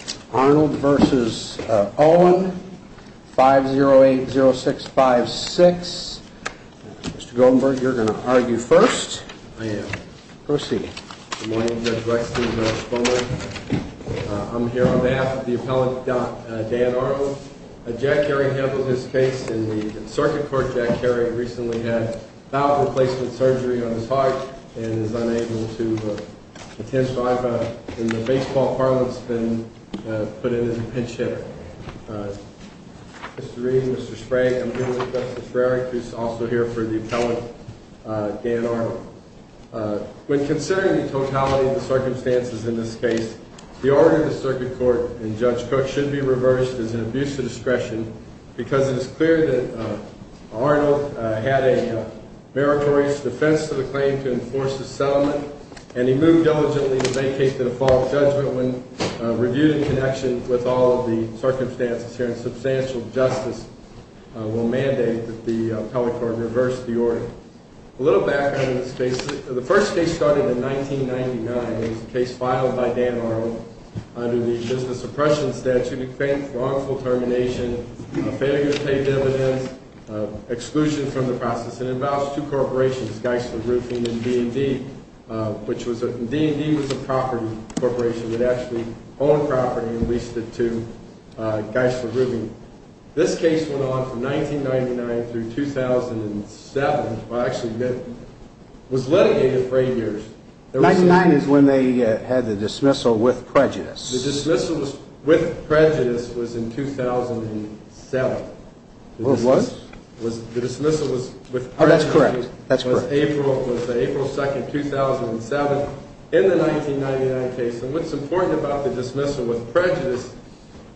v. Owen, 5080656. Mr. Goldenberg, you're going to argue first. I am proceeding. Good morning, Judge Rex, Judge Bowman. I'm here on behalf of the appellant, Dan Arnold. Jack Kerry handled his case in the circuit court. Jack Kerry recently had bowel replacement surgery on his heart and is unable to attend. In the baseball parliament, it's been put in as a pinch hitter. Mr. Reed, Mr. Sprague, I'm here with Justice Brerich, who's also here for the appellant, Dan Arnold. When considering the totality of the circumstances in this case, the order of the circuit court and Judge Cook should be reversed as an abuse of discretion because it is clear that Arnold had a meritorious defense to the claim to enforce his settlement, and he moved diligently to vacate the default judgment when reviewed in connection with all of the circumstances here, and substantial justice will mandate that the appellate court reverse the order. A little background on this case. The first case started in 1999. It was a case filed by Dan Arnold under the Business Oppression Statute. He claimed wrongful termination, failure to pay dividends, exclusion from the process, and it involves two corporations, Geisler Roofing and D&D. D&D was a property corporation that actually owned property and leased it to Geisler Roofing. This case went on from 1999 through 2007. Well, actually, it was litigated for eight years. 1999 is when they had the dismissal with prejudice. The dismissal with prejudice was in 2007. It was? The dismissal was with prejudice. Oh, that's correct. That's correct. It was April 2, 2007 in the 1999 case. And what's important about the dismissal with prejudice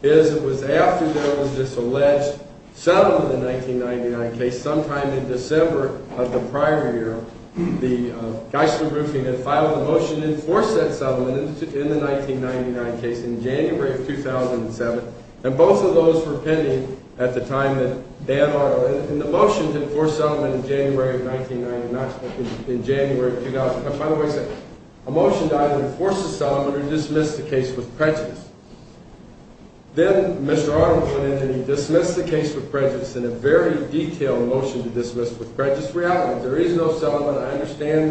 is it was after there was this alleged settlement in the 1999 case. Sometime in December of the prior year, the Geisler Roofing had filed a motion to enforce that settlement in the 1999 case in January of 2007, and both of those were pending at the time that Dan Arnold had it. And the motion to enforce the settlement in January of 2000. By the way, a motion to either enforce the settlement or dismiss the case with prejudice. Then Mr. Arnold went in and he dismissed the case with prejudice in a very detailed motion to dismiss with prejudice. We have it. There is no settlement. I understand.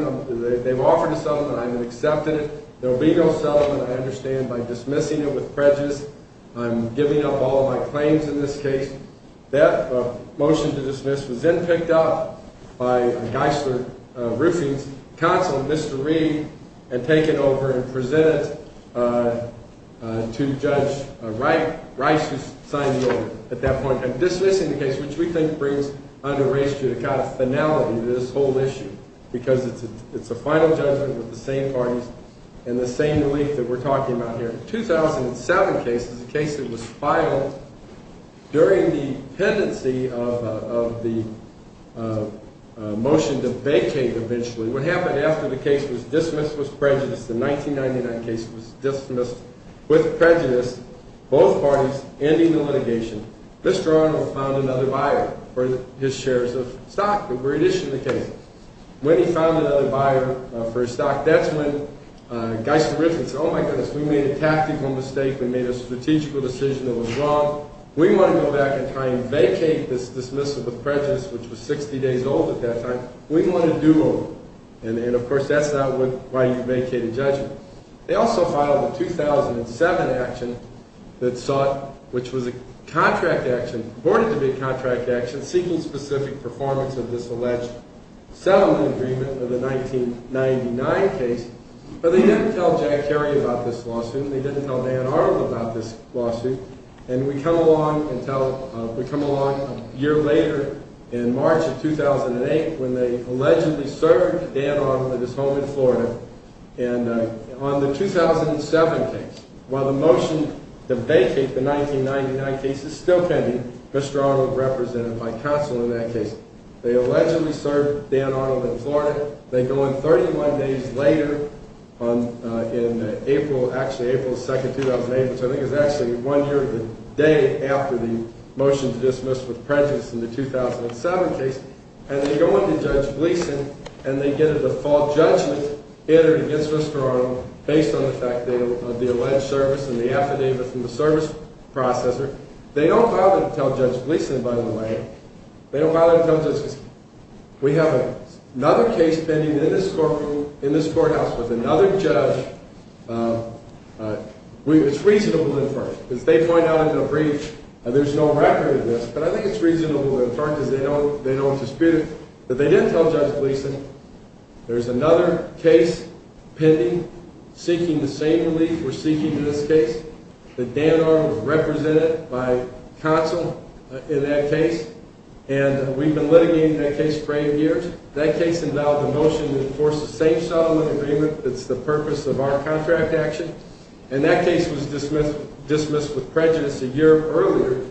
They've offered a settlement. I've accepted it. There will be no settlement, I understand, by dismissing it with prejudice. I'm giving up all of my claims in this case. That motion to dismiss was then picked up by Geisler Roofing's counsel, Mr. Reed, and taken over and presented to Judge Rice, who signed the order at that point in time. Dismissing the case, which we think brings under race to the kind of finality of this whole issue, because it's a final judgment with the same parties and the same belief that we're talking about here. The 2007 case is a case that was filed during the pendency of the motion to vacate eventually. What happened after the case was dismissed with prejudice, the 1999 case was dismissed with prejudice, both parties ending the litigation, Mr. Arnold found another buyer for his shares of stock that were issued in the case. When he found another buyer for his stock, that's when Geisler Roofing said, oh my goodness, we made a tactical mistake, we made a strategic decision that was wrong. We want to go back in time and vacate this dismissal with prejudice, which was 60 days old at that time. We want to do over. And of course, that's not why you vacate a judgment. They also filed a 2007 action that sought, which was a contract action, reported to be a contract action seeking specific performance of this alleged settlement agreement with the 1999 case. But they didn't tell Jack Kerry about this lawsuit, they didn't tell Dan Arnold about this lawsuit. And we come along a year later in March of 2008 when they allegedly served Dan Arnold at his home in Florida. And on the 2007 case, while the motion to vacate the 1999 case is still pending, Mr. Arnold represented by counsel in that case. They allegedly served Dan Arnold in Florida. They go in 31 days later in April, actually April 2, 2008, which I think is actually one year to the day after the motion to dismiss with prejudice in the 2007 case. And they go into Judge Gleeson and they get a default judgment entered against Mr. Arnold based on the fact of the alleged service and the affidavit from the service processor. They don't file it to tell Judge Gleeson, by the way. They don't file it to tell Judge Gleeson. We have another case pending in this courthouse with another judge. It's reasonable to infer, because they point out in the brief that there's no record of this. But I think it's reasonable to infer because they know it's disputed. But they didn't tell Judge Gleeson. There's another case pending seeking the same relief we're seeking in this case. The Dan Arnold was represented by counsel in that case. And we've been litigating that case for eight years. That case involved a motion to enforce the same settlement agreement that's the purpose of our contract action. And that case was dismissed with prejudice a year earlier.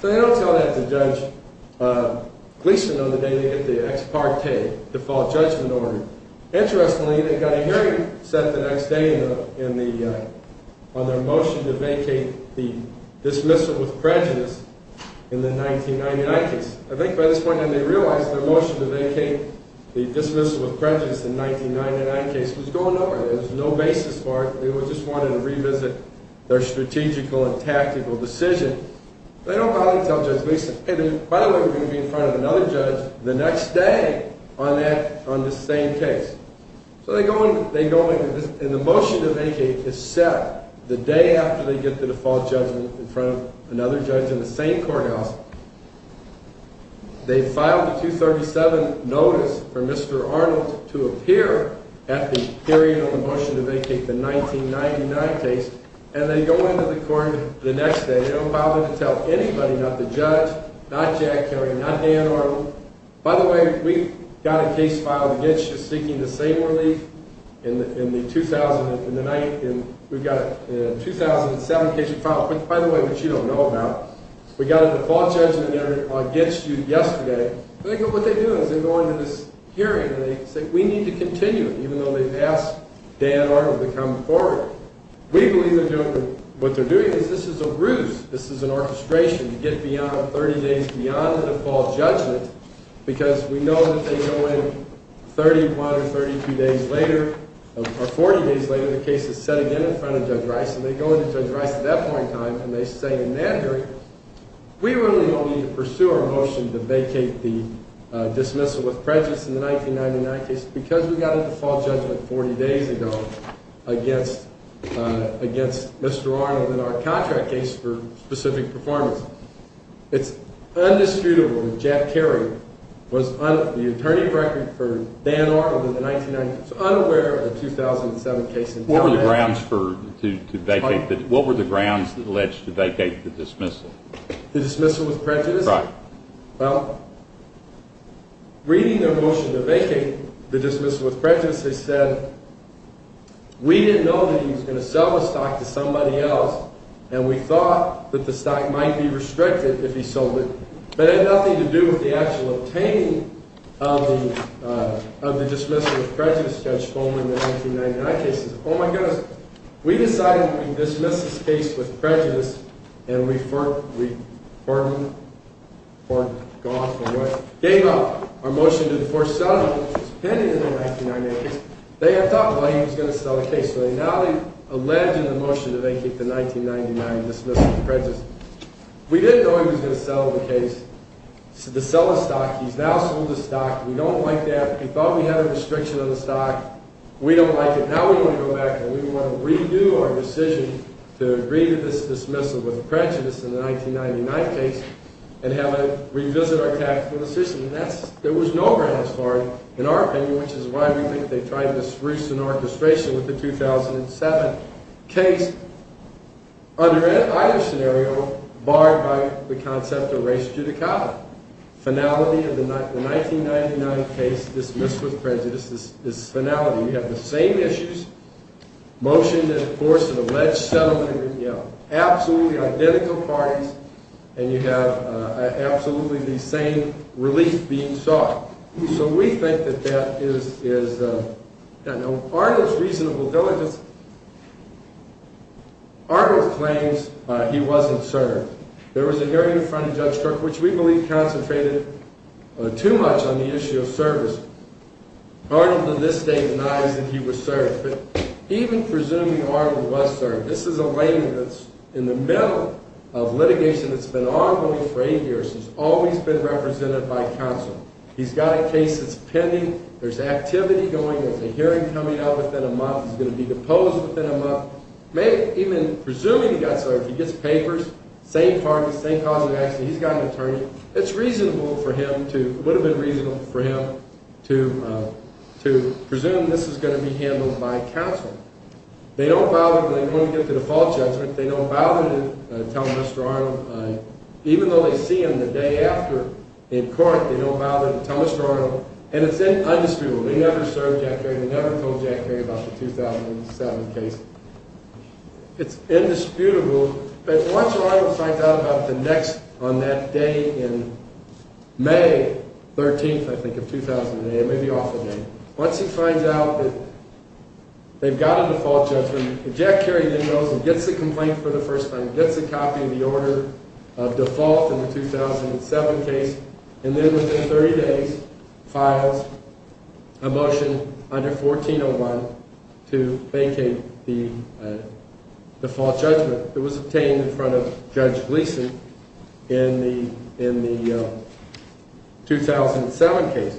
So they don't tell that to Judge Gleeson on the day they get the ex parte default judgment order. Interestingly, they got a hearing set the next day on their motion to vacate the dismissal with prejudice in the 1999 case. I think by this point they realized their motion to vacate the dismissal with prejudice in the 1999 case was going nowhere. There was no basis for it. They just wanted to revisit their strategical and tactical decision. They don't bother to tell Judge Gleeson, hey, by the way, we're going to be in front of another judge the next day on the same case. So they go in and the motion to vacate is set the day after they get the default judgment in front of another judge in the same courthouse. They file the 237 notice for Mr. Arnold to appear at the period of the motion to vacate the 1999 case. And they go into the court the next day. They don't bother to tell anybody, not the judge, not Jack Kelly, not Dan Arnold. By the way, we got a case filed against you seeking the same relief in the 2007 case you filed. By the way, which you don't know about, we got a default judgment against you yesterday. What they do is they go into this hearing and they say we need to continue it, even though they've asked Dan Arnold to come forward. We believe, gentlemen, what they're doing is this is a ruse. This is an orchestration to get beyond 30 days beyond the default judgment. Because we know that they go in 31 or 32 days later, or 40 days later, the case is set again in front of Judge Rice. And they go into Judge Rice at that point in time and they say in that hearing, we really don't need to pursue our motion to vacate the dismissal with prejudice in the 1999 case because we got a default judgment 40 days ago against Mr. Arnold in our contract case for specific performance. It's indisputable that Jack Kelly was on the attorney record for Dan Arnold in the 1990 case, unaware of the 2007 case. What were the grounds to vacate the dismissal? The dismissal with prejudice? Right. Well, reading their motion to vacate the dismissal with prejudice, they said, we didn't know that he was going to sell the stock to somebody else. And we thought that the stock might be restricted if he sold it. But it had nothing to do with the actual obtaining of the dismissal with prejudice Judge Fulmer in the 1999 cases. Oh, my goodness. We decided to dismiss this case with prejudice and we pardoned, forgotten, gave up our motion to foresell the motion pending in the 1999 case. They had thought, well, he was going to sell the case. So now they've alleged in the motion to vacate the 1999 dismissal with prejudice. We didn't know he was going to sell the case to sell the stock. He's now sold the stock. We don't like that. We thought we had a restriction on the stock. We don't like it. And now we want to go back and we want to redo our decision to agree to this dismissal with prejudice in the 1999 case and have it revisit our tactical decision. And that's, there was no grant as far, in our opinion, which is why we think they tried this recent orchestration with the 2007 case. Under either scenario, barred by the concept of res judicata, finality of the 1999 case dismissed with prejudice is finality. We have the same issues, motion to enforce an alleged settlement. We have absolutely identical parties and you have absolutely the same relief being sought. So we think that that is Arnold's reasonable diligence. Arnold claims he wasn't served. There was a hearing in front of Judge Crook, which we believe concentrated too much on the issue of service. Arnold to this day denies that he was served. But even presuming Arnold was served, this is a layman that's in the middle of litigation that's been ongoing for eight years and has always been represented by counsel. He's got a case that's pending. There's activity going. There's a hearing coming up within a month. He's going to be deposed within a month. Even presuming he got served, he gets papers, same parties, same cause of action. He's got an attorney. It's reasonable for him to – it would have been reasonable for him to presume this was going to be handled by counsel. They don't bother – when we get to the default judgment, they don't bother to tell Mr. Arnold. Even though they see him the day after in court, they don't bother to tell Mr. Arnold. And it's indisputable. They never served Jack Perry. They never told Jack Perry about the 2007 case. It's indisputable. But once Arnold finds out about the next – on that day in May 13th, I think, of 2008, it may be off the date. Once he finds out that they've got a default judgment, Jack Perry then goes and gets the complaint for the first time, gets a copy of the order of default in the 2007 case, and then within 30 days files a motion under 1401 to vacate the default judgment that was obtained in front of Judge Gleason in the 2007 case.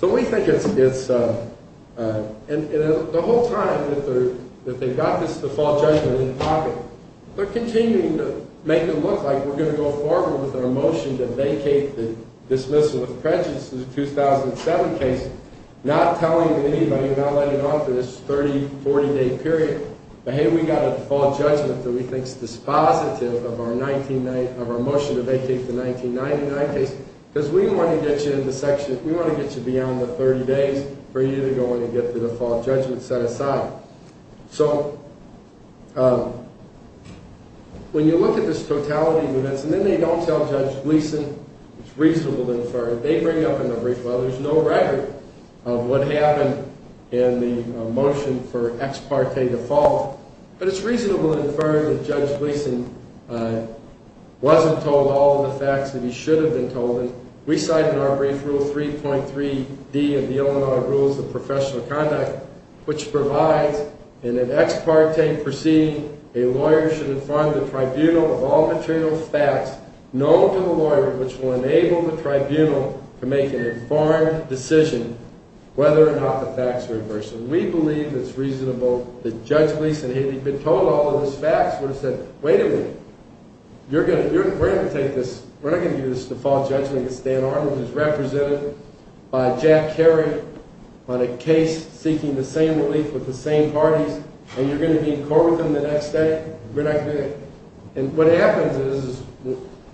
So we think it's – and the whole time that they've got this default judgment in pocket, they're continuing to make it look like we're going to go forward with our motion to vacate the dismissal of prejudice in the 2007 case, not telling anybody, not letting it off for this 30, 40-day period. But, hey, we've got a default judgment that we think is dispositive of our motion to vacate the 1999 case because we want to get you into section – we want to get you beyond the 30 days for you to go in and get the default judgment set aside. So when you look at this totality of events, and then they don't tell Judge Gleason, it's reasonable to infer that they bring up in the brief, well, there's no record of what happened in the motion for ex parte default, but it's reasonable to infer that Judge Gleason wasn't told all of the facts that he should have been told. And we cite in our brief Rule 3.3d of the Illinois Rules of Professional Conduct, which provides, in an ex parte proceeding, a lawyer should inform the tribunal of all material facts known to the lawyer, which will enable the tribunal to make an informed decision whether or not the facts are inverse. We believe it's reasonable that Judge Gleason, had he been told all of these facts, would have said, wait a minute, we're not going to give you this default judgment against Dan Arnold, who's represented by Jack Kerry on a case seeking the same relief with the same parties, and you're going to be in court with him the next day? We're not going to – and what happens is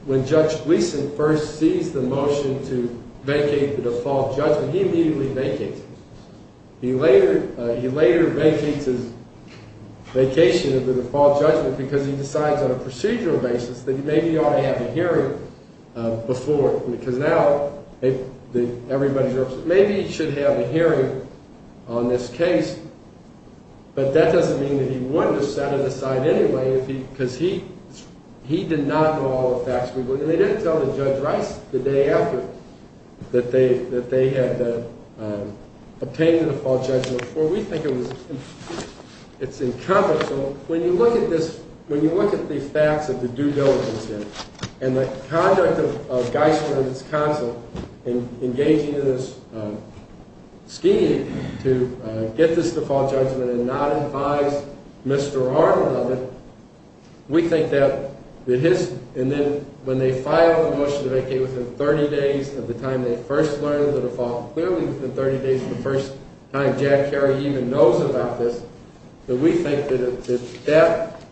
when Judge Gleason first sees the motion to vacate the default judgment, he immediately vacates it. He later vacates his vacation of the default judgment because he decides on a procedural basis that he maybe ought to have a hearing before, because now everybody knows that maybe he should have a hearing on this case, but that doesn't mean that he wouldn't have set it aside anyway, because he did not know all the facts. They didn't tell Judge Rice the day after that they had obtained the default judgment before. So we think it's incumbent. So when you look at this – when you look at the facts of the due diligence, and the conduct of Gleason and his counsel in engaging in this scheme to get this default judgment and not advise Mr. Arnold of it, we think that it is – and then when they file the motion to vacate within 30 days of the time they first learned of the default, clearly within 30 days of the first time Jack Kerry even knows about this, that we think that that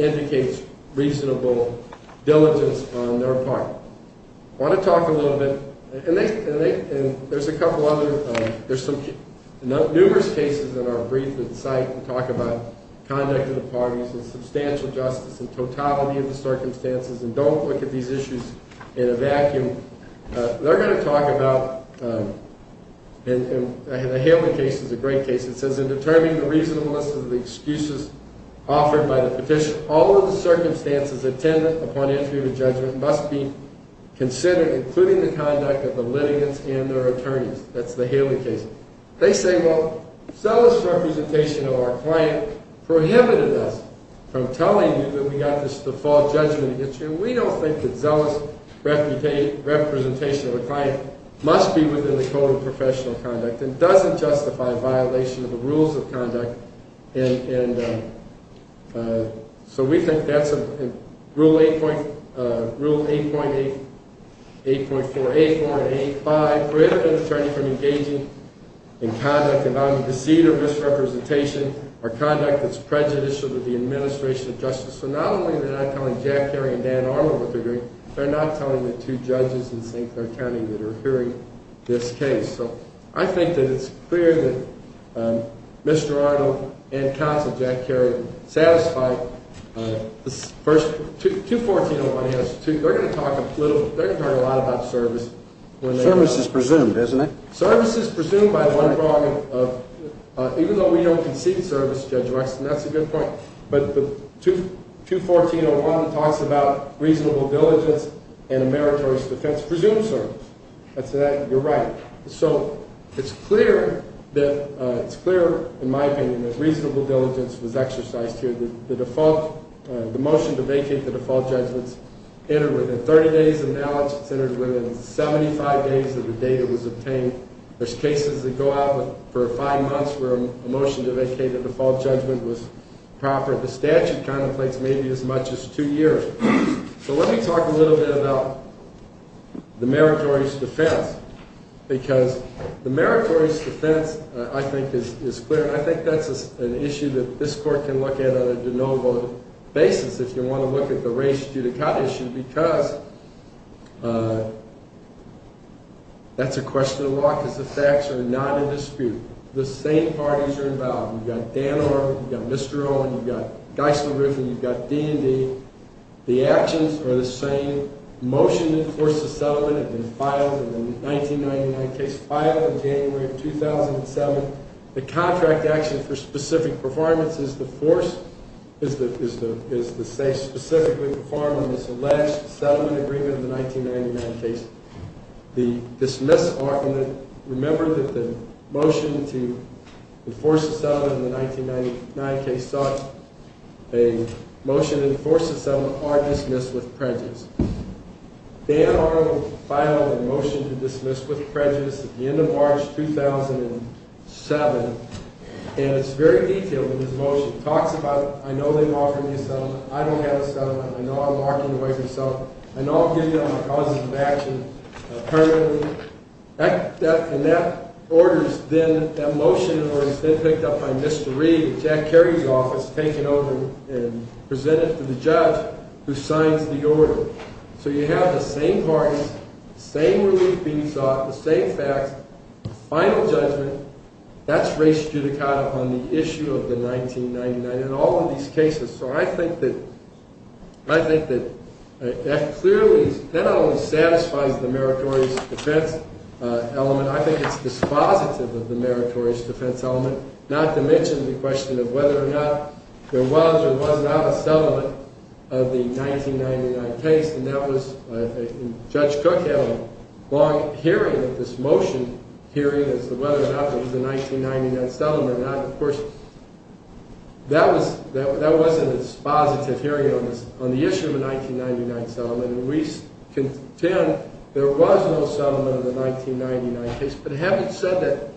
indicates reasonable diligence on their part. I want to talk a little bit – and there's a couple other – there's some numerous cases in our brief that cite and talk about conduct of the parties and substantial justice and totality of the circumstances, and don't look at these issues in a vacuum. They're going to talk about – and the Haley case is a great case. It says, in determining the reasonableness of the excuses offered by the petition, all of the circumstances attendant upon entry of a judgment must be considered, including the conduct of the litigants and their attorneys. That's the Haley case. They say, well, zealous representation of our client prohibited us from telling you that we got this default judgment. We don't think that zealous representation of a client must be within the code of professional conduct and doesn't justify violation of the rules of conduct. And so we think that's a – Rule 8.8, 8.4, 8.4 and 8.5 prohibit an attorney from engaging in conduct about the deceit or misrepresentation or conduct that's prejudicial to the administration of justice. So not only are they not telling Jack Kerry and Dan Armour what they're doing, they're not telling the two judges in St. Clair County that are hearing this case. So I think that it's clear that Mr. Arnold and counsel Jack Kerry satisfied the first – 214.01 has two – they're going to talk a little – they're going to talk a lot about service when they – Service is presumed, isn't it? Service is presumed by one prong of – even though we don't concede service, Judge Wexton, that's a good point. But 214.01 talks about reasonable diligence and a meritorious defense. Presumed service. You're right. So it's clear that – it's clear, in my opinion, that reasonable diligence was exercised here. The default – the motion to vacate the default judgment's entered within 30 days of knowledge. It's entered within 75 days of the date it was obtained. There's cases that go out for five months where a motion to vacate the default judgment was proper. The statute contemplates maybe as much as two years. So let me talk a little bit about the meritorious defense because the meritorious defense, I think, is clear. And I think that's an issue that this Court can look at on a de novo basis if you want to look at the race to the cut issue because that's a question of law because the facts are not in dispute. The same parties are involved. You've got Dan Orr, you've got Mr. Olin, you've got Geisel Riffin, you've got D&D. The actions are the same. Motion to enforce the settlement had been filed in the 1999 case, filed in January of 2007. The contract action for specific performance is the force – is the state specifically performing this alleged settlement agreement in the 1999 case. The dismiss – remember that the motion to enforce the settlement in the 1999 case sought a motion to enforce the settlement are dismissed with prejudice. Dan Orr filed a motion to dismiss with prejudice at the end of March 2007, and it's very detailed in his motion. It talks about, I know they're offering me a settlement, I don't have a settlement, I know I'm marking away for settlement, I know I'll give you all my causes of action permanently. That – and that order's been – that motion has been picked up by Mr. Reed, Jack Kerry's office, taken over and presented to the judge who signs the order. So you have the same parties, the same relief being sought, the same facts, final judgment, that's race judicata on the issue of the 1999 – and all of these cases. So I think that – I think that that clearly – that not only satisfies the meritorious defense element, I think it's dispositive of the meritorious defense element, not to mention the question of whether or not there was or was not a settlement of the 1999 case. And that was – Judge Cook had a long hearing of this motion, hearing as to whether or not there was a 1999 settlement or not. Of course, that was – that wasn't a dispositive hearing on this – on the issue of a 1999 settlement. And we contend there was no settlement of the 1999 case. But having said that,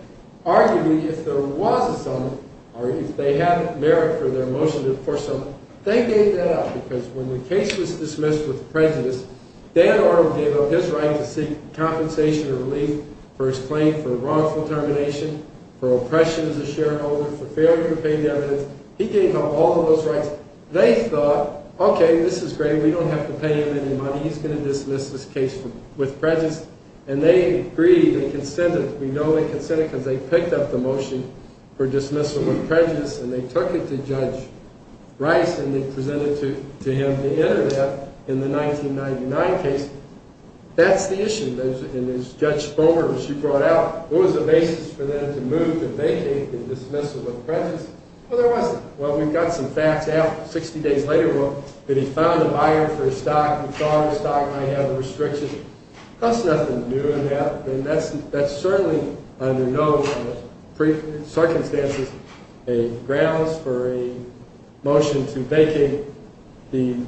arguably, if there was a settlement, or if they had merit for their motion to force settlement, they gave that up. Because when the case was dismissed with prejudice, Dan Arnold gave up his right to seek compensation or relief for his claim for wrongful termination, for oppression as a shareholder, for failure to pay dividends. He gave up all of those rights. They thought, okay, this is great. We don't have to pay him any money. He's going to dismiss this case with prejudice. And they agreed and consented. We know they consented because they picked up the motion for dismissal with prejudice. And they took it to Judge Rice, and they presented it to him to enter that in the 1999 case. That's the issue. And as Judge Bomer, as she brought out, what was the basis for them to move to vacate the dismissal with prejudice? Well, there wasn't. Well, we've got some facts out 60 days later that he found a buyer for his stock and thought his stock might have a restriction. That's nothing new in that. And that's certainly under no circumstances a grounds for a motion to vacate the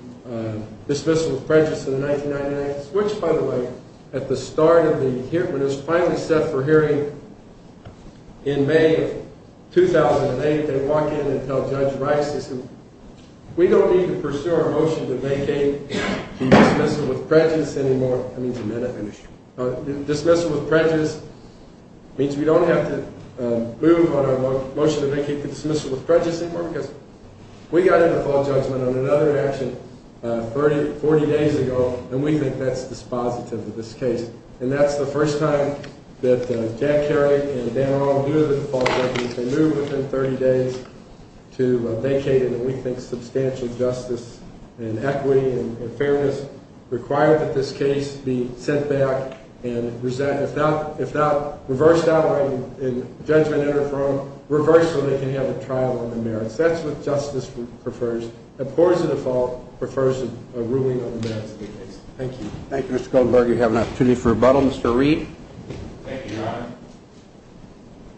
dismissal with prejudice in the 1999 case, which, by the way, at the start of the hearing, was finally set for hearing in May of 2008. They walk in and tell Judge Rice this. And we don't need to pursue our motion to vacate the dismissal with prejudice anymore. That means we don't have to move on our motion to vacate the dismissal with prejudice anymore because we got into full judgment on another action 40 days ago, and we think that's dispositive of this case. And that's the first time that Jack Kerrey and Dan Arnold, who are the default judges, have moved within 30 days to vacate it. And we think substantial justice and equity and fairness require that this case be sent back and, if not reversed outright in judgment in or from, reversed so they can have a trial on the merits. That's what justice prefers. Of course, the default prefers a ruling on the merits of the case. Thank you. Thank you, Mr. Goldberg. You have an opportunity for rebuttal. Mr. Reed. Thank you, Your Honor.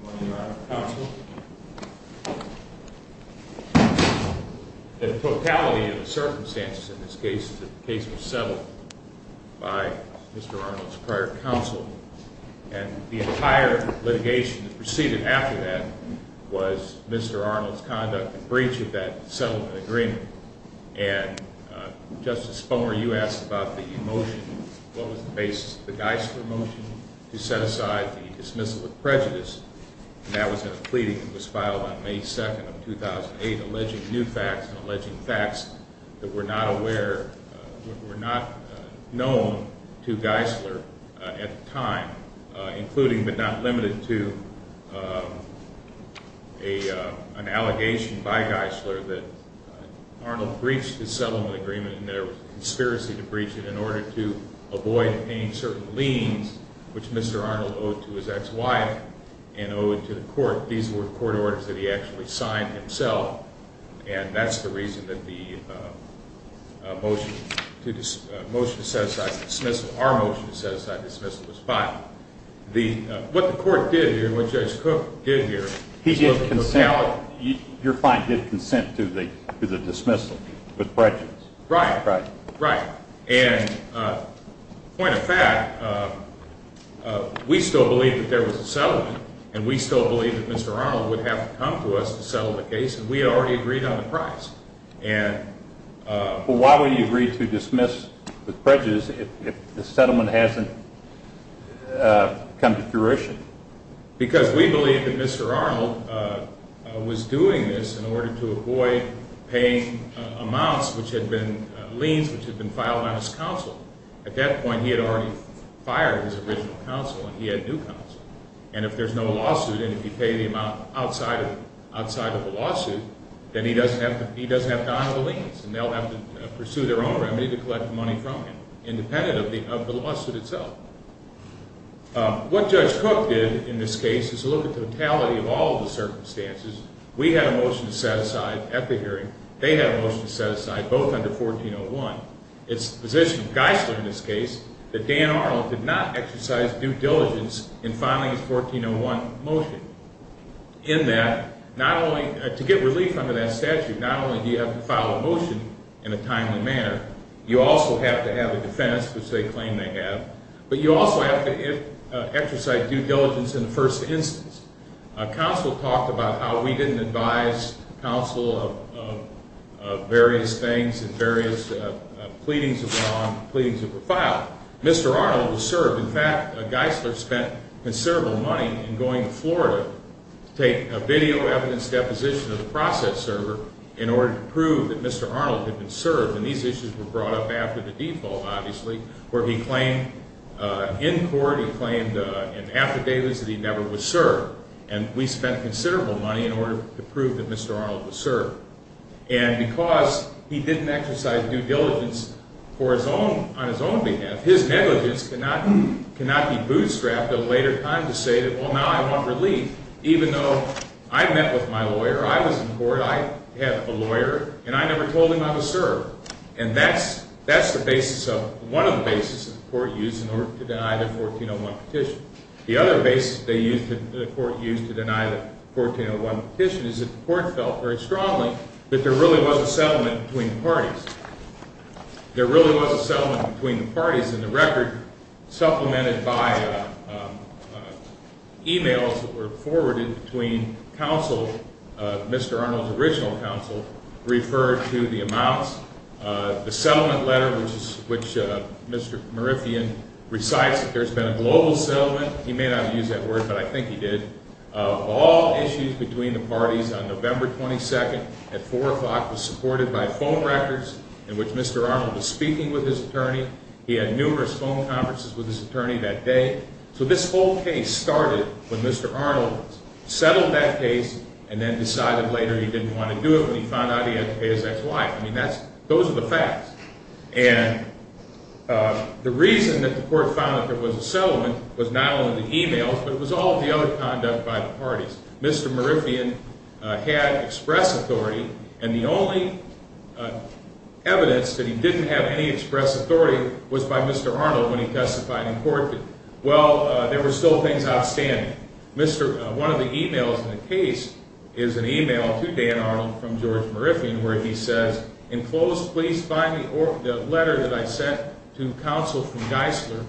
Good morning, Your Honor. Counsel. The totality of the circumstances in this case is that the case was settled by Mr. Arnold's prior counsel, and the entire litigation that proceeded after that was Mr. Arnold's conduct in breach of that settlement agreement. And, Justice Spomer, you asked about the motion. What was the basis of the Geisler motion to set aside the dismissal of prejudice? And that was in a pleading that was filed on May 2nd of 2008, alleging new facts and alleging facts that were not known to Geisler at the time, including but not limited to an allegation by Geisler that Arnold breached his settlement agreement and there was a conspiracy to breach it in order to avoid paying certain liens, which Mr. Arnold owed to his ex-wife and owed to the court. These were court orders that he actually signed himself, and that's the reason that the motion to set aside the dismissal, our motion to set aside the dismissal, was filed. What the court did here, what Judge Cook did here, was look at the totality. Your client did consent to the dismissal with prejudice. Right. Right. And, point of fact, we still believed that there was a settlement, and we still believed that Mr. Arnold would have to come to us to settle the case, and we had already agreed on the price. But why would you agree to dismiss with prejudice if the settlement hasn't come to fruition? Because we believed that Mr. Arnold was doing this in order to avoid paying amounts, which had been liens, which had been filed on his counsel. At that point, he had already fired his original counsel and he had new counsel. And if there's no lawsuit and if you pay the amount outside of the lawsuit, then he doesn't have to honor the liens and they'll have to pursue their own remedy to collect the money from him, independent of the lawsuit itself. What Judge Cook did in this case is look at the totality of all the circumstances. We had a motion to set aside at the hearing. They had a motion to set aside, both under 1401. It's the position of Geisler in this case that Dan Arnold did not exercise due diligence in filing his 1401 motion. In that, to get relief under that statute, not only do you have to file a motion in a timely manner, you also have to have a defense, which they claim they have, but you also have to exercise due diligence in the first instance. Counsel talked about how we didn't advise counsel of various things and various pleadings of wrong, pleadings that were filed. Mr. Arnold was served. In fact, Geisler spent considerable money in going to Florida to take a video evidence deposition of the process server in order to prove that Mr. Arnold had been served. And these issues were brought up after the default, obviously, where he claimed in court, he claimed in affidavits that he never was served. And we spent considerable money in order to prove that Mr. Arnold was served. And because he didn't exercise due diligence on his own behalf, his negligence cannot be bootstrapped at a later time to say, well, now I want relief. Even though I met with my lawyer, I was in court, I had a lawyer, and I never told him I was served. And that's the basis of, one of the basis that the court used in order to deny the 1401 petition. The other basis the court used to deny the 1401 petition is that the court felt very strongly that there really was a settlement between parties. There really was a settlement between the parties, and the record supplemented by emails that were forwarded between counsel, Mr. Arnold's original counsel, referred to the amounts. The settlement letter, which Mr. Merithian recites that there's been a global settlement. He may not have used that word, but I think he did. All issues between the parties on November 22nd at 4 o'clock was supported by phone records in which Mr. Arnold was speaking with his attorney. He had numerous phone conferences with his attorney that day. So this whole case started when Mr. Arnold settled that case and then decided later he didn't want to do it when he found out he had to pay his ex-wife. I mean, those are the facts. And the reason that the court found that there was a settlement was not only the emails, but it was all of the other conduct by the parties. Mr. Merithian had express authority, and the only evidence that he didn't have any express authority was by Mr. Arnold when he testified in court. Well, there were still things outstanding. One of the emails in the case is an email to Dan Arnold from George Merithian where he says, In close, please find the letter that I sent to counsel from Geisler,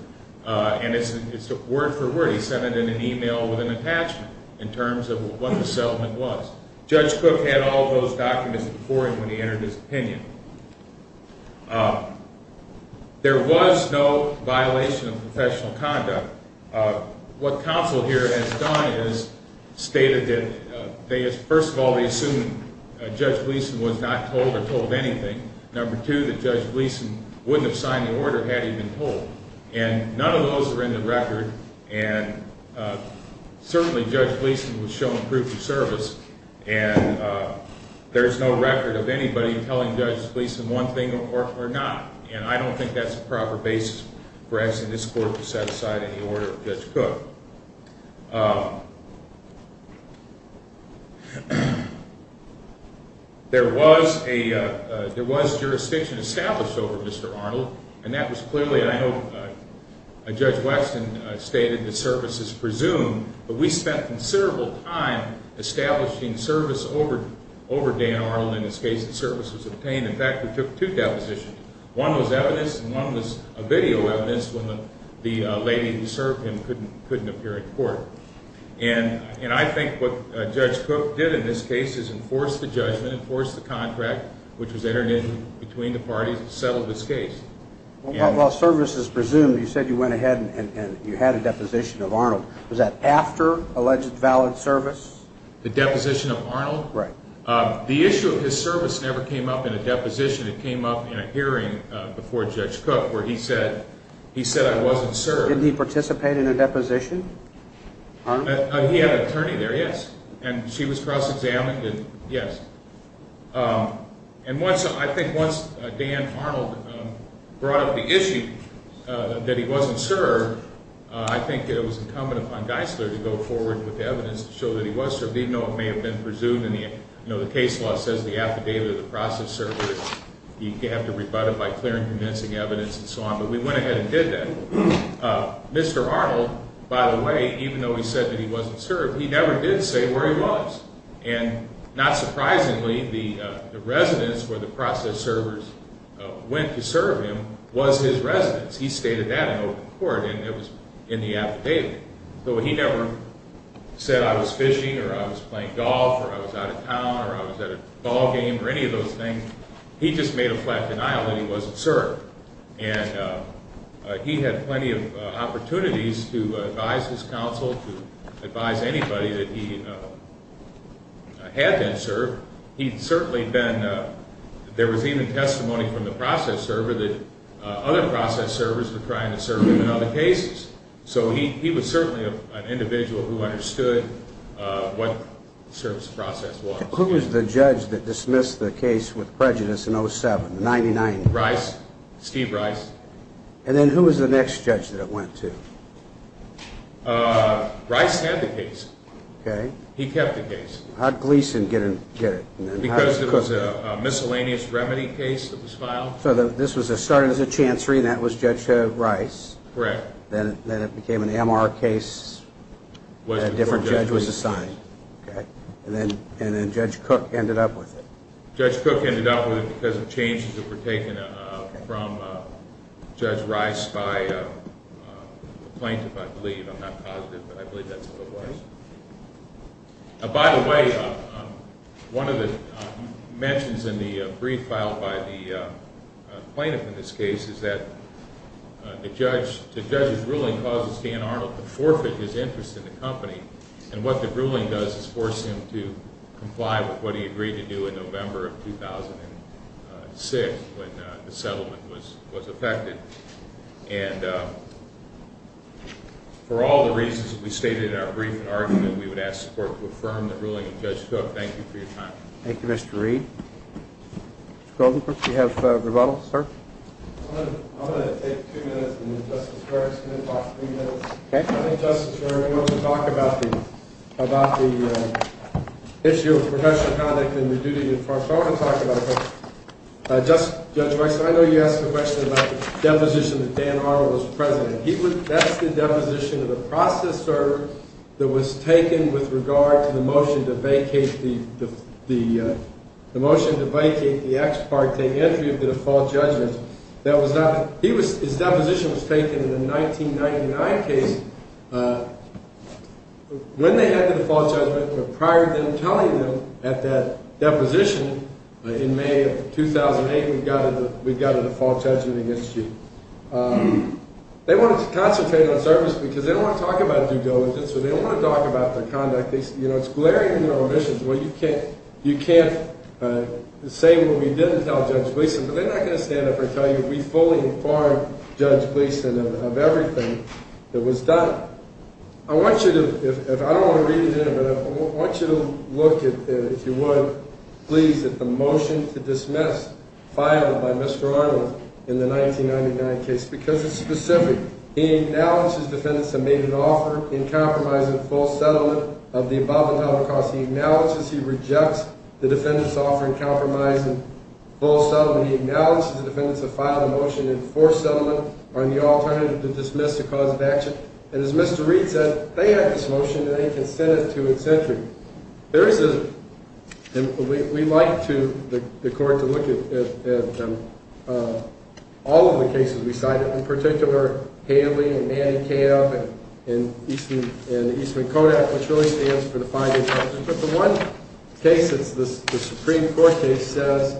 and it's word for word. He sent it in an email with an attachment in terms of what the settlement was. Judge Cook had all of those documents before him when he entered his opinion. There was no violation of professional conduct. What counsel here has done is stated that, first of all, they assume Judge Gleeson was not told or told anything. Number two, that Judge Gleeson wouldn't have signed the order had he been told. And none of those are in the record, and certainly Judge Gleeson was shown proof of service. And there's no record of anybody telling Judge Gleeson one thing or not. And I don't think that's a proper basis for asking this court to set aside any order for Judge Cook. There was jurisdiction established over Mr. Arnold, and that was clearly, I know Judge Weston stated, that service is presumed, but we spent considerable time establishing service over Dan Arnold. In this case, the service was obtained. In fact, we took two depositions. One was evidence, and one was a video evidence when the lady who served him couldn't appear in court. And I think what Judge Cook did in this case is enforce the judgment, enforce the contract, which was entered in between the parties that settled this case. Well, service is presumed. You said you went ahead and you had a deposition of Arnold. Was that after alleged valid service? The deposition of Arnold? Right. The issue of his service never came up in a deposition. It came up in a hearing before Judge Cook where he said I wasn't served. Didn't he participate in a deposition? He had an attorney there, yes. And she was cross-examined, yes. And I think once Dan Arnold brought up the issue that he wasn't served, I think it was incumbent upon Geisler to go forward with evidence to show that he was served, even though it may have been presumed. You know, the case law says the affidavit of the process served. You have to rebut it by clearing convincing evidence and so on. But we went ahead and did that. Mr. Arnold, by the way, even though he said that he wasn't served, he never did say where he was. And not surprisingly, the residence where the process servers went to serve him was his residence. He stated that in open court, and it was in the affidavit. So he never said I was fishing or I was playing golf or I was out of town or I was at a ball game or any of those things. He just made a flat denial that he wasn't served. And he had plenty of opportunities to advise his counsel, to advise anybody that he had been served. He'd certainly been – there was even testimony from the process server that other process servers were trying to serve him in other cases. So he was certainly an individual who understood what the service process was. Who was the judge that dismissed the case with prejudice in 07, 99? Rice, Steve Rice. And then who was the next judge that it went to? Rice had the case. Okay. He kept the case. How did Gleeson get it? Because it was a miscellaneous remedy case that was filed. So this started as a chancery and that was Judge Rice. Correct. Then it became an MR case. A different judge was assigned. Okay. And then Judge Cook ended up with it. Judge Cook ended up with it because of changes that were taken from Judge Rice by a plaintiff, I believe. I'm not positive, but I believe that's who it was. By the way, one of the mentions in the brief filed by the plaintiff in this case is that the judge's ruling causes Dan Arnold to forfeit his interest in the company. And what the ruling does is force him to comply with what he agreed to do in November of 2006 when the settlement was effected. And for all the reasons that we stated in our brief and argument, we would ask support to affirm the ruling of Judge Cook. Thank you for your time. Thank you, Mr. Reed. Mr. Goldenberg, do you have a rebuttal, sir? I'm going to take two minutes and then Justice Gerg is going to talk three minutes. Okay. Thank you, Justice Gerg. I want to talk about the issue of professional conduct and the duty to talk about it. Judge Rice, I know you asked a question about the deposition that Dan Arnold was present in. That's the deposition of the process server that was taken with regard to the motion to vacate the ex parte entry of the default judgment. His deposition was taken in the 1999 case when they had the default judgment, but prior to them telling him at that deposition in May of 2008, we've got a default judgment against you. They wanted to concentrate on service because they don't want to talk about due diligence or they don't want to talk about their conduct. It's glaring in their omissions. Well, you can't say what we didn't tell Judge Gleason, but they're not going to stand up and tell you we fully informed Judge Gleason of everything that was done. I don't want to read it in, but I want you to look, if you would, please, at the motion to dismiss filed by Mr. Arnold in the 1999 case because it's specific. He acknowledges defendants have made an offer in compromise in full settlement of the above-entitled cause. He acknowledges he rejects the defendants' offer in compromise in full settlement. He acknowledges the defendants have filed a motion in forced settlement on the alternative to dismiss the cause of action. And as Mr. Reed said, they had this motion and they consented to its entry. We'd like the court to look at all of the cases we cited, in particular Haley and Manicab and the Eastman-Kodak, which really stands for the five-year sentence. But the one case that's the Supreme Court case says,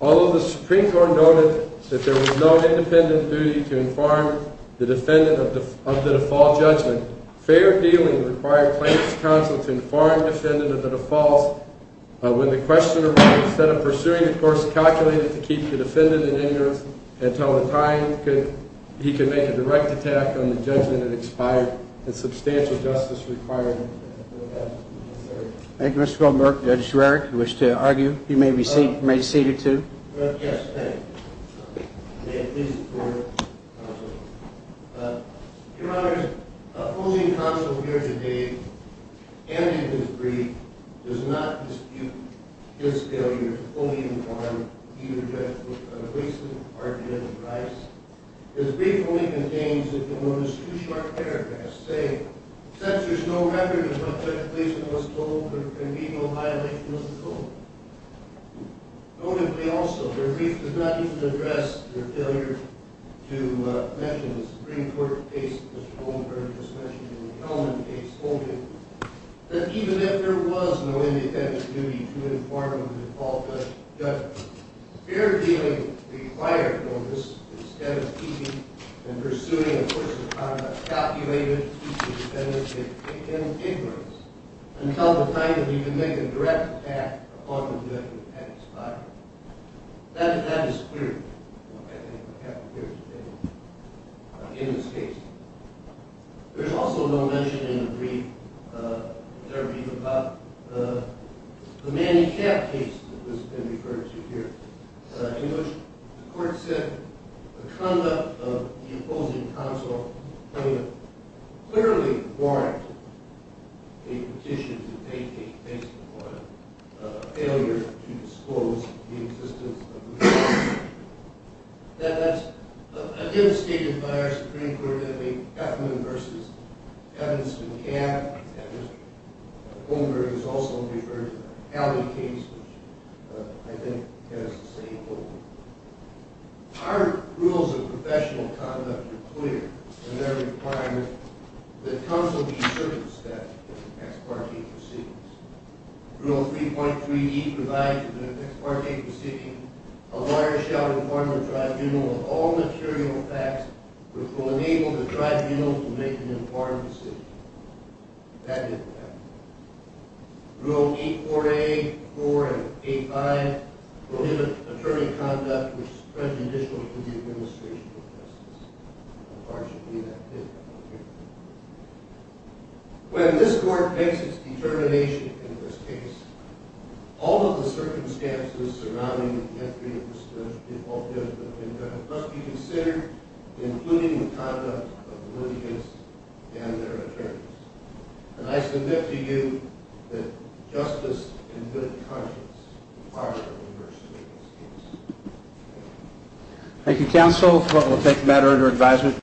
although the Supreme Court noted that there was no independent duty to inform the defendant of the default judgment, fair appealing required plaintiff's counsel to inform the defendant of the defaults when the question arose. Instead of pursuing the course calculated to keep the defendant in ignorance until the time, he could make a direct attack on the judgment that expired and substantial justice required. Thank you, Mr. Feldberg. Judge Rarick, you wish to argue? You may be seated, too. Yes, thank you. May it please the court, counsel. Your Honor, opposing counsel here today, and in his brief, does not dispute his failure to fully inform either judge or police department of the price. His brief only contains, if you'll notice, two short paragraphs saying, since there's no record of what the plaintiff was told, there can be no violation of the rule. Notably, also, your brief does not even address your failure to mention the Supreme Court case, which Mr. Feldberg just mentioned, and the element of case holding, that even if there was no independent duty to inform the default judgment, fair appealing required notice instead of keeping and pursuing a course of conduct calculated to keep the defendant in ignorance until the time that he could make a direct attack upon the judgment that expired. That is clear, I think, what happened here today in this case. There's also no mention in the brief, in their brief, about the man in cap case that has been referred to here. In which the court said the conduct of the opposing counsel clearly warranted a petition to take a case upon a failure to disclose the existence of the man in cap. That's, again, stated by our Supreme Court in the Effman v. Evans in cap, and Mr. Feldberg has also referred to the Alley case, which, I think, has the same holdings. Our rules of professional conduct are clear in their requirement that counsel be circumspect in ex parte proceedings. Rule 3.3e provides in an ex parte proceeding, a lawyer shall inform the tribunal of all material facts which will enable the tribunal to make an informed decision. That didn't happen. Rule 8.4a, 4, and 8.5 prohibit attorney conduct which is prejudicial to the administration of justice. Unfortunately, that did happen here. When this court makes its determination in this case, all of the circumstances surrounding the death, must be considered, including the conduct of the litigants and their attorneys. And I submit to you that justice and good conscience are the university of this case.